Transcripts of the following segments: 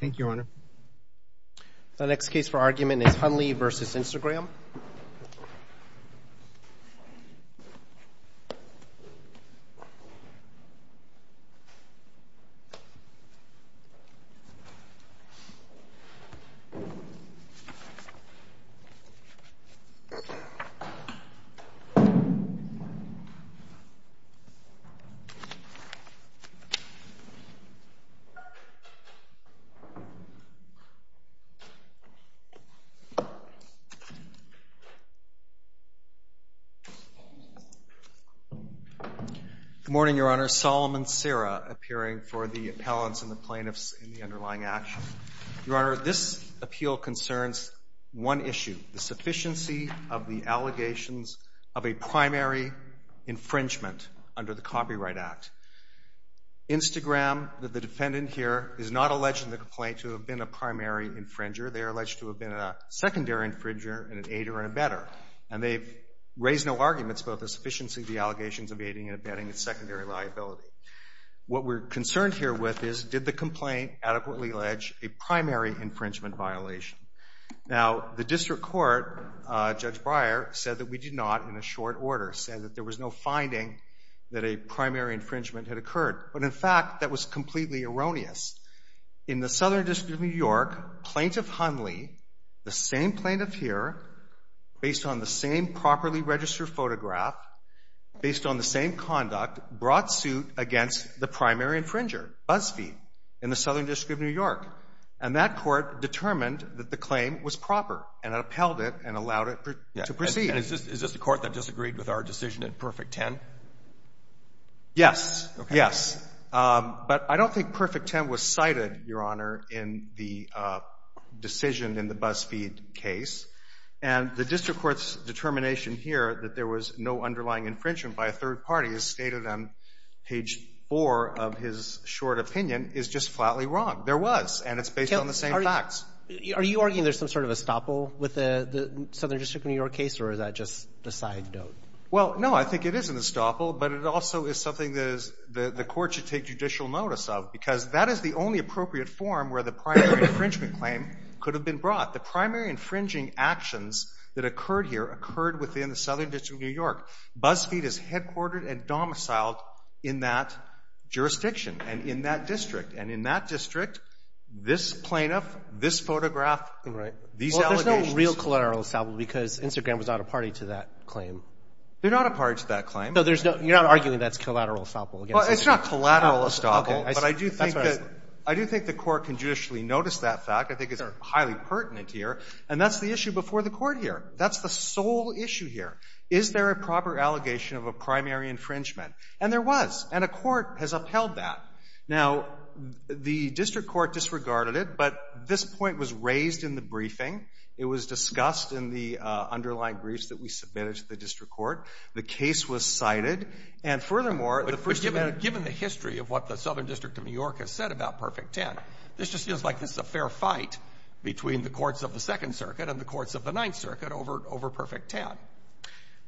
Thank you, Your Honor. The next case for argument is Hunley v. Instagram. Good morning, Your Honor. Solomon Serra appearing for the appellants and the plaintiffs in the underlying action. Your Honor, this appeal concerns one issue, the sufficiency of the allegations of a primary infringement under the Copyright Act. Instagram, the defendant here, is not alleged in the complaint to have been a primary infringer. They are alleged to have been a secondary infringer and an aider and a better. And they've raised no arguments about the sufficiency of the allegations of aiding and abetting a secondary liability. What we're concerned here with is did the complaint adequately allege a primary infringement violation. Now, the district court, Judge Breyer, said that we did not in a short order. Said that there was no finding that a primary infringement had occurred. But, in fact, that was completely erroneous. In the Southern District of New York, Plaintiff Hunley, the same plaintiff here, based on the same properly registered photograph, based on the same conduct, brought suit against the primary infringer, Buzzfeed, in the Southern District of New York. And that court determined that the claim was proper and upheld it and allowed it to proceed. And is this the court that disagreed with our decision in Perfect Ten? Yes. Yes. But I don't think Perfect Ten was cited, Your Honor, in the decision in the Buzzfeed case. And the district court's determination here that there was no underlying infringement by a third party, as stated on page 4 of his short opinion, is just flatly wrong. There was. And it's based on the same facts. Are you arguing there's some sort of estoppel with the Southern District of New York case, or is that just a side note? Well, no, I think it is an estoppel, but it also is something that the court should take judicial notice of, because that is the only appropriate form where the primary infringement claim could have been brought. The primary infringing actions that occurred here occurred within the Southern District of New York. Buzzfeed is headquartered and domiciled in that jurisdiction and in that district. This plaintiff, this photograph, these allegations. Well, there's no real collateral estoppel because Instagram was not a party to that claim. They're not a party to that claim. No, you're not arguing that's collateral estoppel. Well, it's not collateral estoppel, but I do think the court can judicially notice that fact. I think it's highly pertinent here. And that's the issue before the court here. That's the sole issue here. Is there a proper allegation of a primary infringement? And there was, and a court has upheld that. Now, the district court disregarded it, but this point was raised in the briefing. It was discussed in the underlying briefs that we submitted to the district court. The case was cited. And furthermore, the first amendment. But given the history of what the Southern District of New York has said about Perfect Ten, this just feels like this is a fair fight between the courts of the Second Circuit and the courts of the Ninth Circuit over Perfect Ten.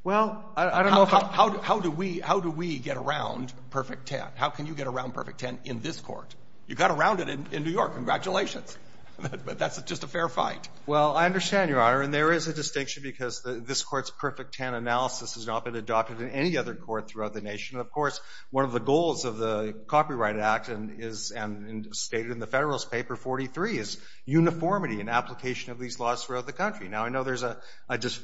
Well, I don't know if I'm... How do we get around Perfect Ten? How can you get around Perfect Ten in this court? You got around it in New York. Congratulations. But that's just a fair fight. Well, I understand, Your Honor. And there is a distinction because this court's Perfect Ten analysis has not been adopted in any other court throughout the nation. Of course, one of the goals of the Copyright Act and stated in the Federalist Paper 43 is uniformity in application of these laws throughout the country. Now, I know there's a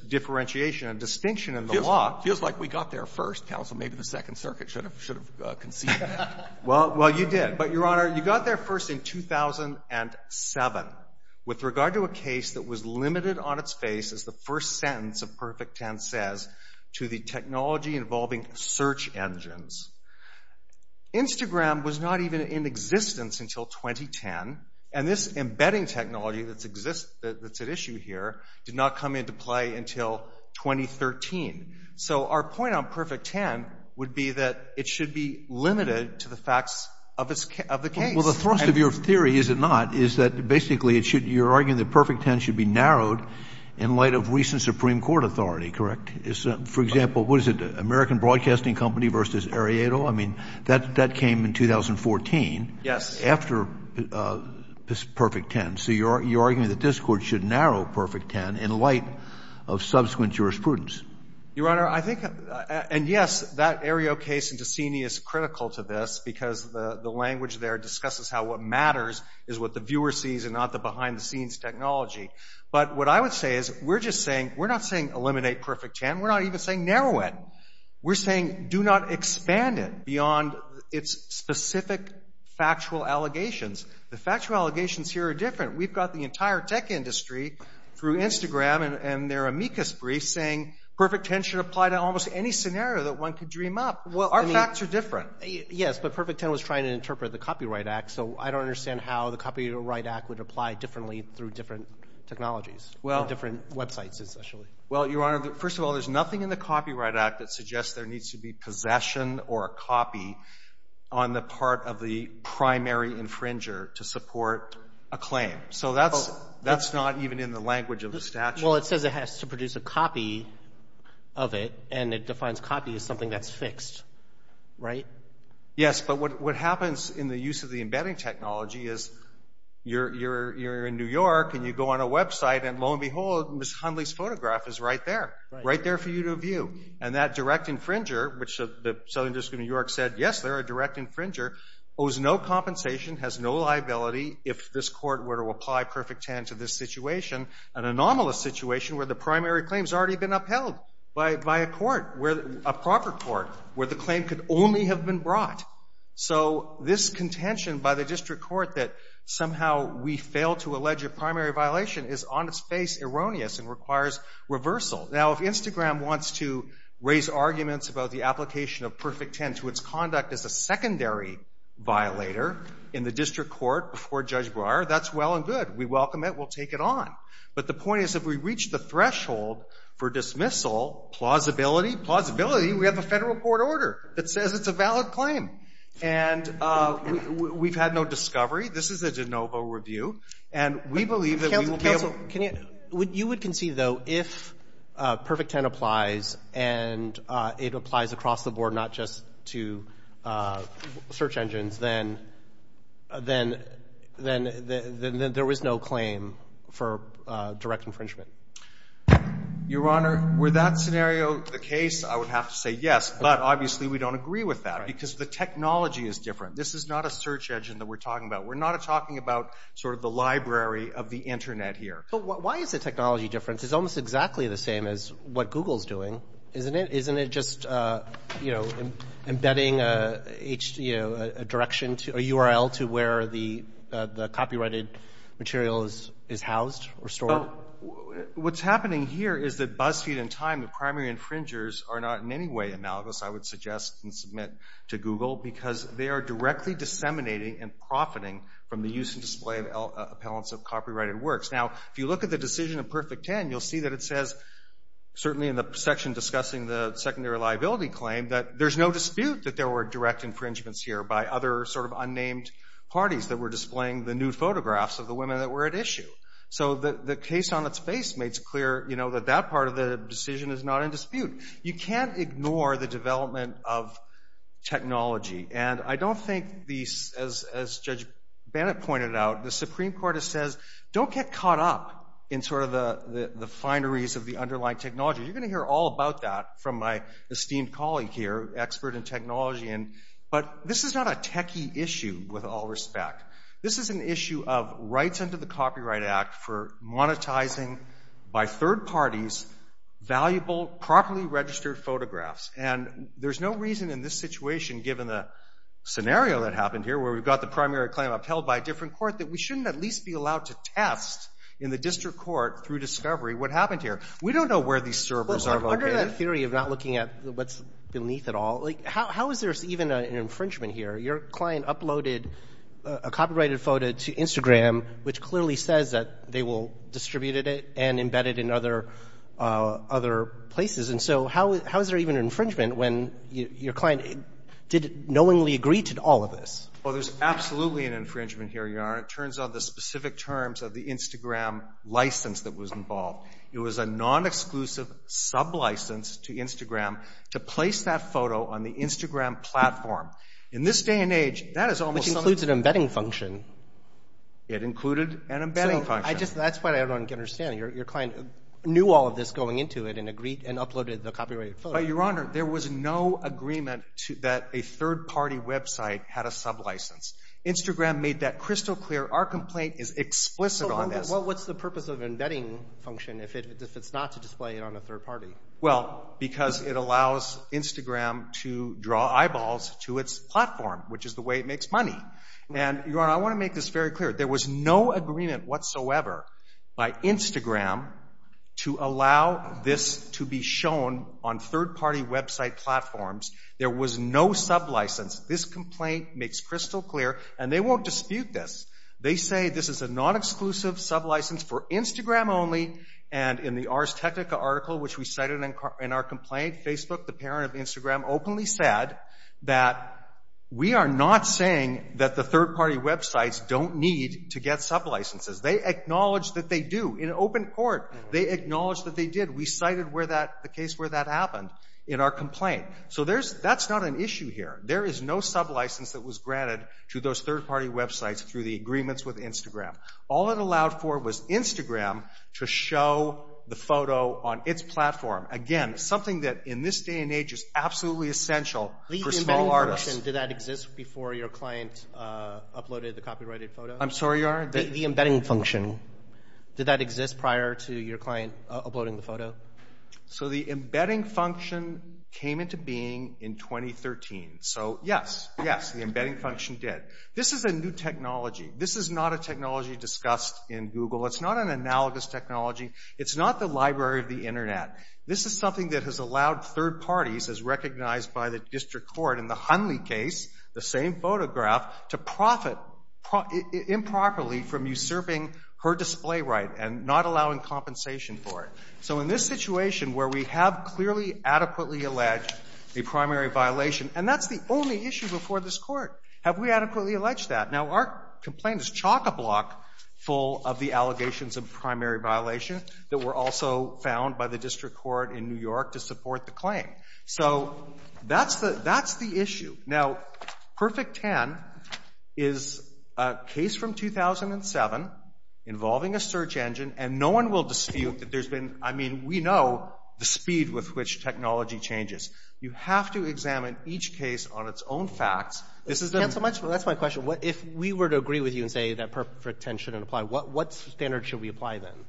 differentiation, a distinction in the law. It feels like we got there first, Counsel. Maybe the Second Circuit should have conceived that. Well, you did. But, Your Honor, you got there first in 2007 with regard to a case that was limited on its face, as the first sentence of Perfect Ten says, to the technology involving search engines. Instagram was not even in existence until 2010, and this embedding technology that's at issue here did not come into play until 2013. So our point on Perfect Ten would be that it should be limited to the facts of the case. Well, the thrust of your theory, is it not, is that basically you're arguing that Perfect Ten should be narrowed in light of recent Supreme Court authority. Correct? For example, what is it, American Broadcasting Company v. Arellano? I mean, that came in 2014. Yes. After Perfect Ten. So you're arguing that this Court should narrow Perfect Ten in light of subsequent jurisprudence. Your Honor, I think, and yes, that Arellano case in Decini is critical to this because the language there discusses how what matters is what the viewer sees and not the behind-the-scenes technology. But what I would say is we're just saying, we're not saying eliminate Perfect Ten. We're not even saying narrow it. We're saying do not expand it beyond its specific factual allegations. The factual allegations here are different. We've got the entire tech industry through Instagram and their amicus briefs saying Perfect Ten should apply to almost any scenario that one could dream up. Well, our facts are different. Yes, but Perfect Ten was trying to interpret the Copyright Act, so I don't understand how the Copyright Act would apply differently through different technologies, different websites, essentially. Well, Your Honor, first of all, there's nothing in the Copyright Act that suggests there needs to be possession or a copy on the part of the primary infringer to support a claim. So that's not even in the language of the statute. Well, it says it has to produce a copy of it, and it defines copy as something that's fixed, right? Yes, but what happens in the use of the embedding technology is you're in New York and you go on a website, and lo and behold, Ms. Hundley's photograph is right there, right there for you to view. And that direct infringer, which the Southern District of New York said, yes, they're a direct infringer, owes no compensation, has no liability if this court were to apply Perfect Ten to this situation, an anomalous situation where the primary claim's already been upheld by a court, a proper court, where the claim could only have been brought. So this contention by the district court that somehow we fail to allege a primary violation is on its face erroneous and requires reversal. Now, if Instagram wants to raise arguments about the application of Perfect Ten to its conduct as a secondary violator in the district court before Judge Breyer, that's well and good. We welcome it. We'll take it on. But the point is if we reach the threshold for dismissal, plausibility, plausibility, we have a federal court order that says it's a valid claim. And we've had no discovery. This is a de novo review. And we believe that we will be able to ---- If Perfect Ten applies and it applies across the board, not just to search engines, then there was no claim for direct infringement. Your Honor, were that scenario the case, I would have to say yes. But obviously we don't agree with that because the technology is different. This is not a search engine that we're talking about. We're not talking about sort of the library of the Internet here. But why is the technology different? It's almost exactly the same as what Google's doing, isn't it? Isn't it just, you know, embedding a URL to where the copyrighted material is housed or stored? What's happening here is that BuzzFeed and Time, the primary infringers, are not in any way analogous, I would suggest and submit to Google, because they are directly disseminating and profiting from the use and display of appellants of copyrighted works. Now, if you look at the decision of Perfect Ten, you'll see that it says, certainly in the section discussing the secondary liability claim, that there's no dispute that there were direct infringements here by other sort of unnamed parties that were displaying the nude photographs of the women that were at issue. So the case on its face makes clear, you know, that that part of the decision is not in dispute. You can't ignore the development of technology. And I don't think, as Judge Bennett pointed out, the Supreme Court says, don't get caught up in sort of the fineries of the underlying technology. You're going to hear all about that from my esteemed colleague here, expert in technology. But this is not a techie issue, with all respect. This is an issue of rights under the Copyright Act for monetizing, by third parties, valuable, properly registered photographs. And there's no reason in this situation, given the scenario that happened here, where we've got the primary claim upheld by a different court, that we shouldn't at least be allowed to test in the district court through discovery what happened here. We don't know where these servers are located. Roberts. Under that theory of not looking at what's beneath it all, how is there even an infringement here? Your client uploaded a copyrighted photo to Instagram, which clearly says that they will distribute it and embed it in other places. And so how is there even an infringement when your client did knowingly agree to all of this? Well, there's absolutely an infringement here, Your Honor. It turns on the specific terms of the Instagram license that was involved. It was a non-exclusive sub-license to Instagram to place that photo on the Instagram platform. In this day and age, that is almost something. Which includes an embedding function. It included an embedding function. So that's what I don't understand. Your client knew all of this going into it and agreed and uploaded the copyrighted photo. Your Honor, there was no agreement that a third-party website had a sub-license. Instagram made that crystal clear. Our complaint is explicit on this. Well, what's the purpose of embedding function if it's not to display it on a third party? Well, because it allows Instagram to draw eyeballs to its platform, which is the way it makes money. And, Your Honor, I want to make this very clear. There was no agreement whatsoever by Instagram to allow this to be shown on third-party website platforms. There was no sub-license. This complaint makes crystal clear. And they won't dispute this. They say this is a non-exclusive sub-license for Instagram only. And in the Ars Technica article, which we cited in our complaint, Facebook, the parent of Instagram, openly said that we are not saying that the third-party websites don't need to get sub-licenses. They acknowledge that they do. In open court, they acknowledge that they did. We cited the case where that happened in our complaint. So that's not an issue here. There is no sub-license that was granted to those third-party websites through the agreements with Instagram. All it allowed for was Instagram to show the photo on its platform. Again, something that in this day and age is absolutely essential for small artists. The embedding function, did that exist before your client uploaded the copyrighted photo? I'm sorry, Your Honor? The embedding function. Did that exist prior to your client uploading the photo? So the embedding function came into being in 2013. So, yes, yes, the embedding function did. This is a new technology. This is not a technology discussed in Google. It's not an analogous technology. It's not the library of the Internet. This is something that has allowed third parties, as recognized by the district court in the Hunley case, the same photograph, to profit improperly from usurping her display right and not allowing compensation for it. So in this situation where we have clearly, adequately alleged a primary violation, and that's the only issue before this Court. Have we adequately alleged that? Now, our complaint is chock-a-block full of the allegations of primary violation that were also found by the district court in New York to support the claim. So that's the issue. Now, Perfect 10 is a case from 2007 involving a search engine, and no one will dispute that there's been, I mean, we know the speed with which technology changes. You have to examine each case on its own facts. That's my question. If we were to agree with you and say that Perfect 10 shouldn't apply, what standard should we apply then?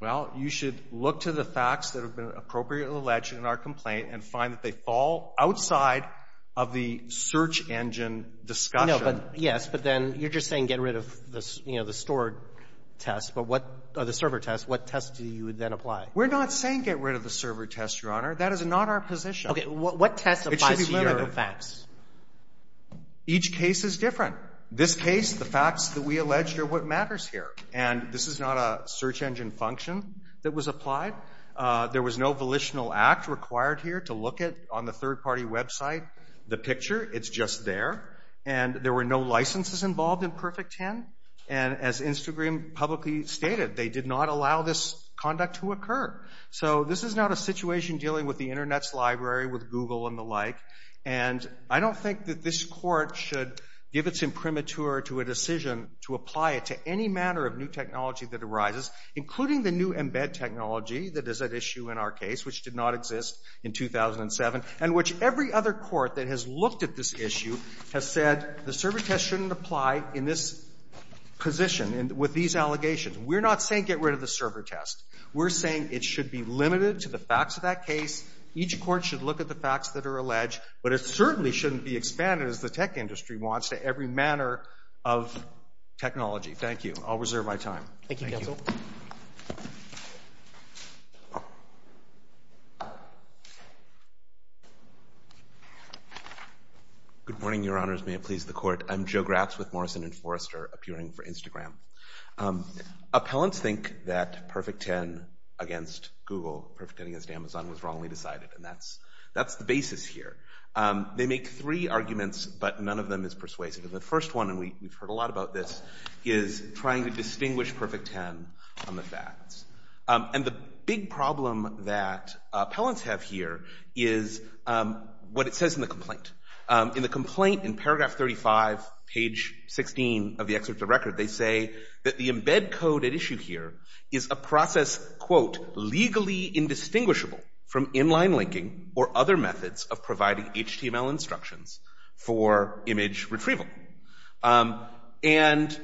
Well, you should look to the facts that have been appropriately alleged in our complaint and find that they fall outside of the search engine discussion. No, but yes, but then you're just saying get rid of the, you know, the stored tests, but what the server tests, what tests do you then apply? We're not saying get rid of the server tests, Your Honor. That is not our position. Okay. What test applies to your facts? Each case is different. This case, the facts that we alleged are what matters here, and this is not a search engine function that was applied. There was no volitional act required here to look at on the third-party website the picture. It's just there, and there were no licenses involved in Perfect 10, and as Instagram publicly stated, they did not allow this conduct to occur. So this is not a situation dealing with the Internet's library, with Google and the like, and I don't think that this Court should give its imprimatur to a decision to apply it to any manner of new technology that arises, including the new embed technology that is at issue in our case, which did not exist in 2007, and which every other court that has looked at this issue has said the server test shouldn't apply in this position with these allegations. We're not saying get rid of the server test. We're saying it should be limited to the facts of that case. Each court should look at the facts that are alleged, but it certainly shouldn't be expanded as the tech industry wants to every manner of technology. Thank you. I'll reserve my time. Thank you, counsel. Good morning, Your Honors. May it please the Court. I'm Joe Gratz with Morrison & Forrester, appearing for Instagram. Appellants think that Perfect Ten against Google, Perfect Ten against Amazon was wrongly decided, and that's the basis here. They make three arguments, but none of them is persuasive. And the first one, and we've heard a lot about this, is trying to distinguish Perfect Ten from the facts. And the big problem that appellants have here is what it says in the complaint. In the complaint in paragraph 35, page 16 of the excerpt of the record, they say that the embed code at issue here is a process, quote, legally indistinguishable from inline linking or other methods of providing HTML instructions for image retrieval. And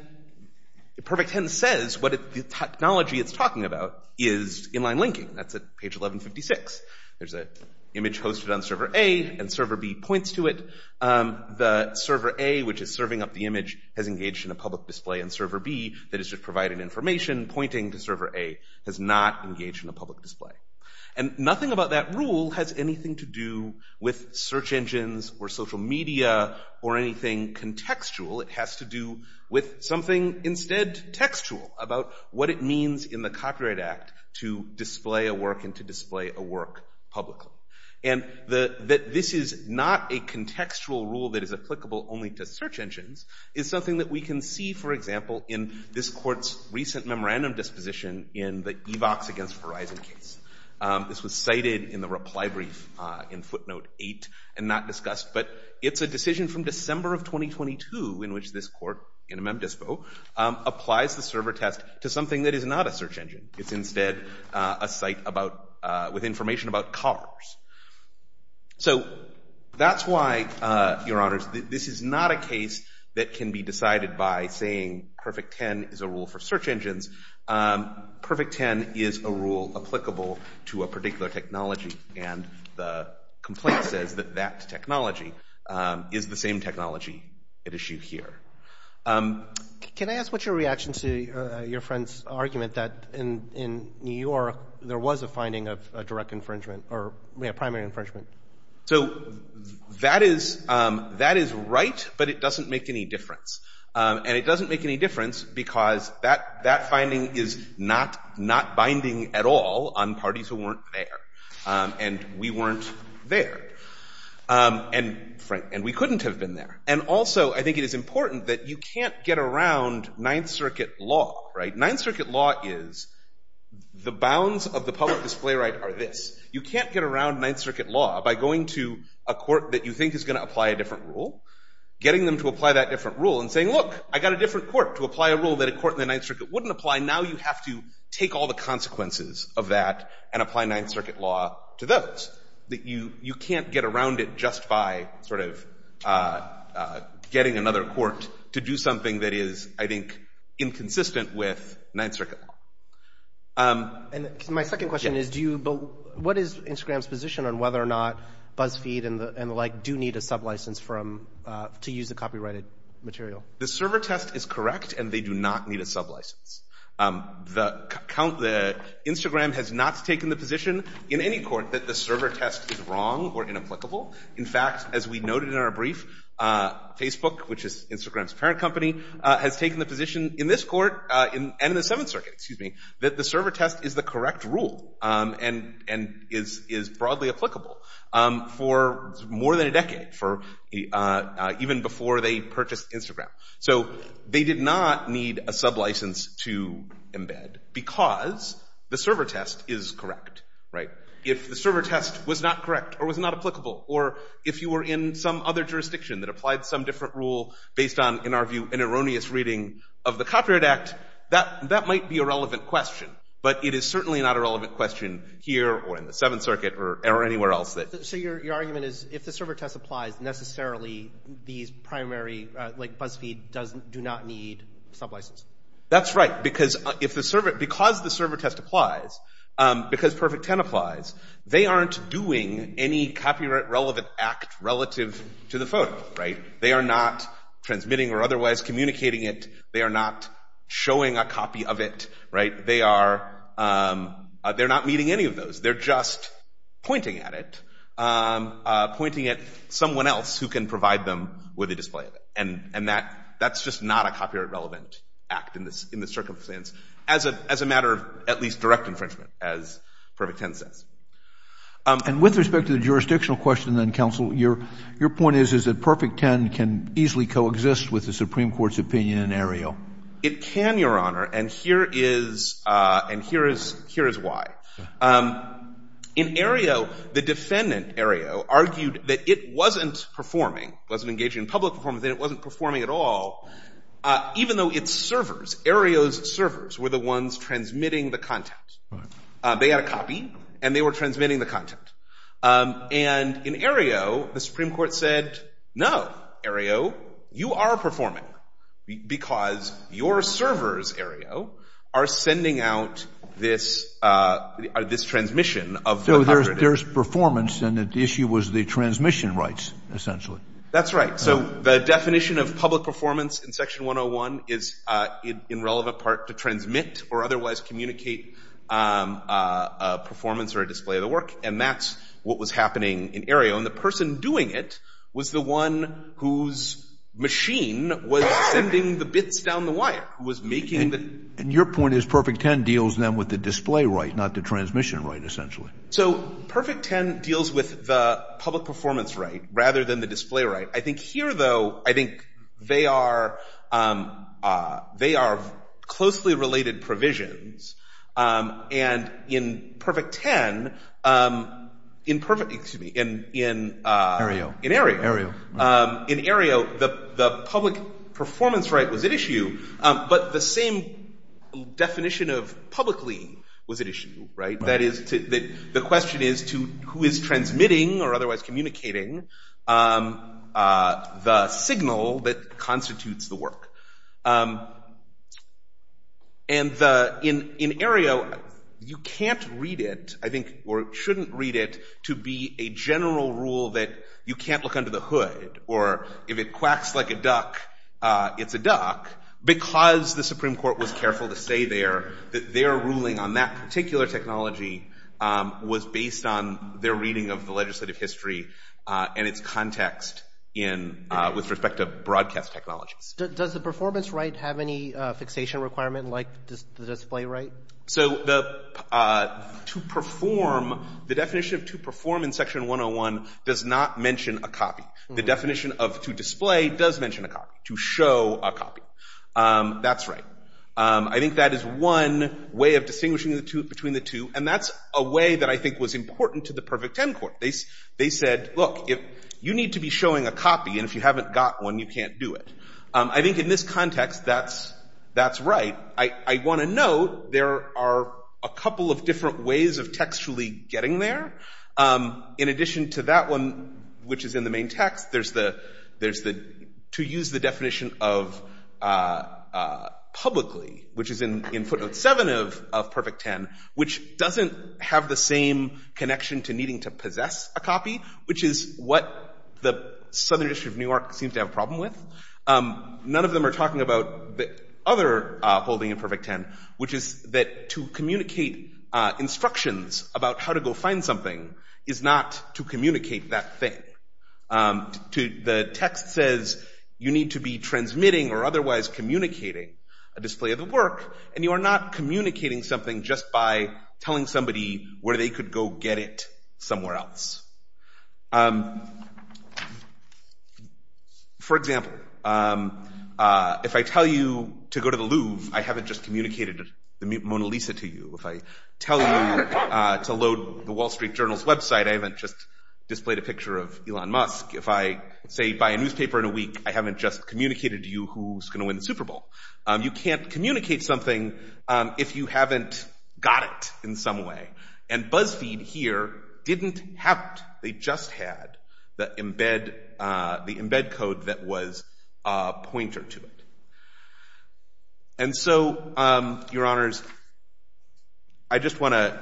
Perfect Ten says what the technology it's talking about is inline linking. That's at page 1156. There's an image hosted on server A, and server B points to it. The server A, which is serving up the image, has engaged in a public display, and server B, that is just providing information, pointing to server A, has not engaged in a public display. And nothing about that rule has anything to do with search engines or social media or anything contextual. It has to do with something instead textual about what it means in the Copyright Act to display a work and to display a work publicly. And that this is not a contextual rule that is applicable only to search engines is something that we can see, for example, in this court's recent memorandum disposition in the EVOX against Verizon case. This was cited in the reply brief in footnote 8 and not discussed, but it's a decision from December of 2022 in which this court, NMM Dispo, applies the server test to something that is not a search engine. It's instead a site with information about cars. So that's why, Your Honors, this is not a case that can be decided by saying Perfect 10 is a rule for search engines. Perfect 10 is a rule applicable to a particular technology, and the complaint says that that technology is the same technology at issue here. Can I ask what's your reaction to your friend's argument that in New York there was a finding of direct infringement or primary infringement? So that is right, but it doesn't make any difference. And it doesn't make any difference because that finding is not binding at all on parties who weren't there. And we weren't there. And we couldn't have been there. And also I think it is important that you can't get around Ninth Circuit law, right? Ninth Circuit law is the bounds of the public display right are this. You can't get around Ninth Circuit law by going to a court that you think is going to apply a different rule, getting them to apply that different rule and saying, Look, I got a different court to apply a rule that a court in the Ninth Circuit wouldn't apply. Now you have to take all the consequences of that and apply Ninth Circuit law to those. You can't get around it just by sort of getting another court to do something that is, I think, inconsistent with Ninth Circuit law. And my second question is, what is Instagram's position on whether or not BuzzFeed and the like do need a sublicense to use the copyrighted material? The server test is correct, and they do not need a sublicense. Instagram has not taken the position in any court that the server test is wrong or inapplicable. In fact, as we noted in our brief, Facebook, which is Instagram's parent company, has taken the position in this court and in the Seventh Circuit that the server test is the correct rule and is broadly applicable for more than a decade, even before they purchased Instagram. So they did not need a sublicense to embed because the server test is correct. If the server test was not correct or was not applicable or if you were in some other jurisdiction that applied some different rule based on, in our view, an erroneous reading of the Copyright Act, that might be a relevant question. But it is certainly not a relevant question here or in the Seventh Circuit or anywhere else. So your argument is if the server test applies, necessarily these primary, like BuzzFeed, do not need a sublicense? That's right. Because the server test applies, because Perfect 10 applies, they aren't doing any copyright-relevant act relative to the phone. They are not transmitting or otherwise communicating it. They are not showing a copy of it. They are not meeting any of those. They're just pointing at it, pointing at someone else who can provide them with a display of it. And that's just not a copyright-relevant act in this circumstance, as a matter of at least direct infringement, as Perfect 10 says. And with respect to the jurisdictional question, then, Counsel, your point is that Perfect 10 can easily coexist with the Supreme Court's opinion in Aereo. It can, Your Honor, and here is why. In Aereo, the defendant, Aereo, argued that it wasn't performing, wasn't engaging in public performance, and it wasn't performing at all, even though its servers, Aereo's servers, were the ones transmitting the content. They had a copy, and they were transmitting the content. And in Aereo, the Supreme Court said, no, Aereo, you are performing, because your servers, Aereo, are sending out this transmission of the copyright. So there's performance, and the issue was the transmission rights, essentially. That's right. So the definition of public performance in Section 101 is, in relevant part, to transmit or otherwise communicate a performance or a display of the work, and that's what was happening in Aereo. And the person doing it was the one whose machine was sending the bits down the wire, who was making the – And your point is Perfect 10 deals, then, with the display right, not the transmission right, essentially. So Perfect 10 deals with the public performance right rather than the display right. I think here, though, I think they are closely related provisions, and in Perfect 10 – excuse me, in – Aereo. In Aereo. In Aereo, the public performance right was at issue, but the same definition of publicly was at issue, right? That is, the question is to who is transmitting or otherwise communicating the signal that constitutes the work. And in Aereo, you can't read it, I think, or shouldn't read it to be a general rule that you can't look under the hood, or if it quacks like a duck, it's a duck, because the Supreme Court was careful to say there that their ruling on that particular technology was based on their reading of the legislative history and its context with respect to broadcast technologies. Does the performance right have any fixation requirement like the display right? So to perform, the definition of to perform in Section 101 does not mention a copy. The definition of to display does mention a copy, to show a copy. That's right. I think that is one way of distinguishing between the two, and that's a way that I think was important to the Perfect 10 Court. They said, look, you need to be showing a copy, and if you haven't got one, you can't do it. I think in this context, that's right. I want to note there are a couple of different ways of textually getting there. In addition to that one, which is in the main text, there's the to use the definition of publicly, which is in footnote 7 of Perfect 10, which doesn't have the same connection to needing to possess a copy, which is what the Southern District of New York seems to have a problem with. None of them are talking about the other holding in Perfect 10, which is that to communicate instructions about how to go find something is not to communicate that thing. The text says you need to be transmitting or otherwise communicating a display of the work, and you are not communicating something just by telling somebody where they could go get it somewhere else. For example, if I tell you to go to the Louvre, I haven't just communicated the Mona Lisa to you. If I tell you to load the Wall Street Journal's website, I haven't just displayed a picture of Elon Musk. If I say buy a newspaper in a week, I haven't just communicated to you who's going to win the Super Bowl. You can't communicate something if you haven't got it in some way. And BuzzFeed here didn't have it. They just had the embed code that was a pointer to it. And so, Your Honors, I just want to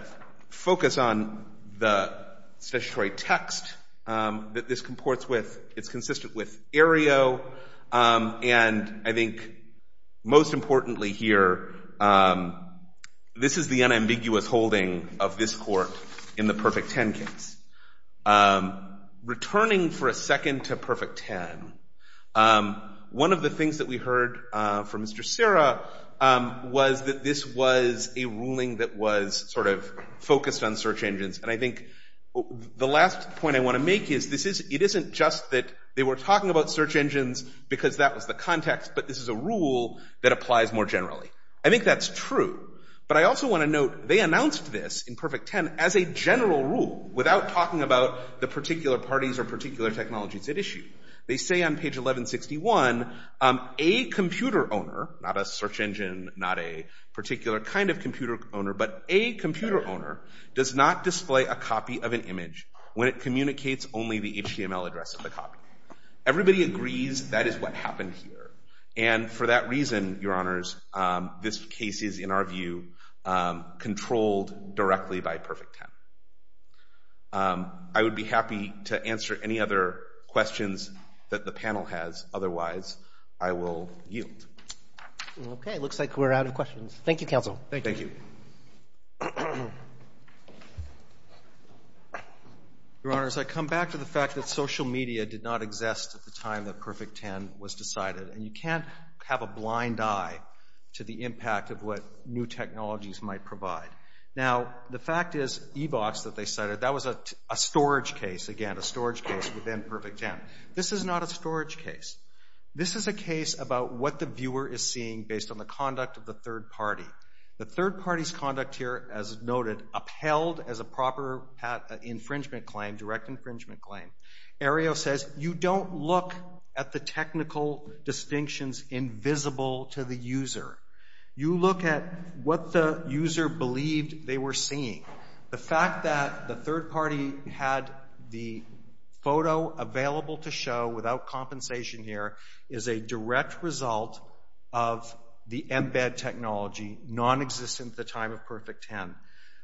focus on the statutory text that this comports with. It's consistent with Aereo, and I think most importantly here, this is the unambiguous holding of this court in the Perfect 10 case. Returning for a second to Perfect 10, one of the things that we heard from Mr. Serra was that this was a ruling that was sort of focused on search engines. And I think the last point I want to make is it isn't just that they were talking about search engines because that was the context, but this is a rule that applies more generally. I think that's true, but I also want to note they announced this in Perfect 10 as a general rule without talking about the particular parties or particular technologies at issue. They say on page 1161, a computer owner, not a search engine, not a particular kind of computer owner, but a computer owner does not display a copy of an image when it communicates only the HTML address of the copy. Everybody agrees that is what happened here, and for that reason, Your Honors, this case is, in our view, controlled directly by Perfect 10. I would be happy to answer any other questions that the panel has. Otherwise, I will yield. Okay. Looks like we're out of questions. Thank you, Counsel. Thank you. Your Honors, I come back to the fact that social media did not exist at the time that Perfect 10 was decided, and you can't have a blind eye to the impact of what new technologies might provide. Now, the fact is e-box that they cited, that was a storage case, again, a storage case within Perfect 10. This is not a storage case. This is a case about what the viewer is seeing based on the conduct of the third party. The third party's conduct here, as noted, upheld as a proper infringement claim, direct infringement claim. Aereo says you don't look at the technical distinctions invisible to the user. You look at what the user believed they were seeing. The fact that the third party had the photo available to show without compensation here is a direct result of the embed technology nonexistent at the time of Perfect 10.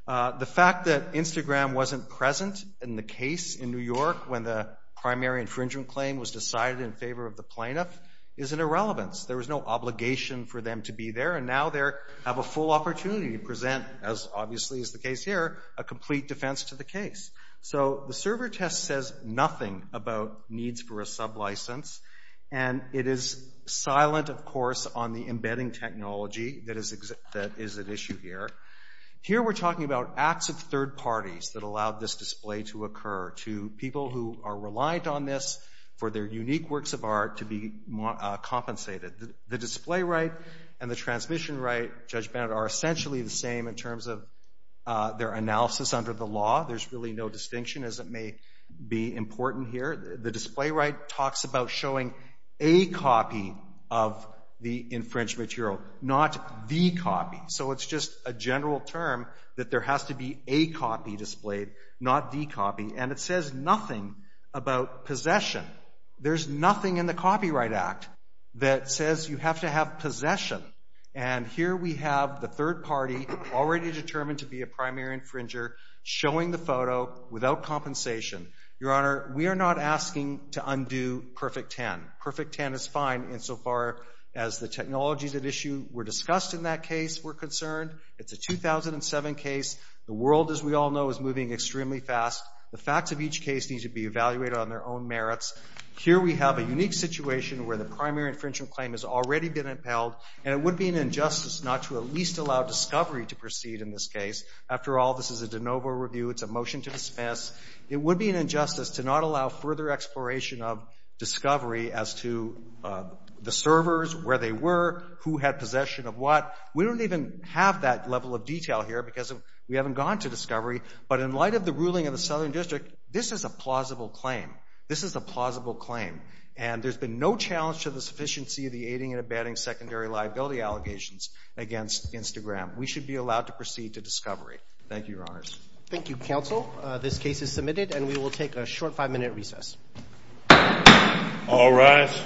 The fact that Instagram wasn't present in the case in New York when the primary infringement claim was decided in favor of the plaintiff is an irrelevance. There was no obligation for them to be there, and now they have a full opportunity to present, as obviously is the case here, a complete defense to the case. So the server test says nothing about needs for a sublicense, and it is silent, of course, on the embedding technology that is at issue here. Here we're talking about acts of third parties that allowed this display to occur, to people who are reliant on this for their unique works of art to be compensated. The display right and the transmission right, Judge Bennett, are essentially the same in terms of their analysis under the law. There's really no distinction, as it may be important here. The display right talks about showing a copy of the infringed material, not the copy. So it's just a general term that there has to be a copy displayed, not the copy, and it says nothing about possession. There's nothing in the Copyright Act that says you have to have possession, and here we have the third party already determined to be a primary infringer showing the photo without compensation. Your Honor, we are not asking to undo Perfect 10. Perfect 10 is fine insofar as the technologies at issue were discussed in that case we're concerned. It's a 2007 case. The world, as we all know, is moving extremely fast. The facts of each case need to be evaluated on their own merits. Here we have a unique situation where the primary infringement claim has already been upheld, and it would be an injustice not to at least allow discovery to proceed in this case. After all, this is a de novo review. It's a motion to dismiss. It would be an injustice to not allow further exploration of discovery as to the servers, where they were, who had possession of what. We don't even have that level of detail here because we haven't gone to discovery, but in light of the ruling of the Southern District, this is a plausible claim. This is a plausible claim, and there's been no challenge to the sufficiency of the aiding and abetting secondary liability allegations against Instagram. We should be allowed to proceed to discovery. Thank you, Your Honors. Thank you, Counsel. This case is submitted, and we will take a short five-minute recess. All rise.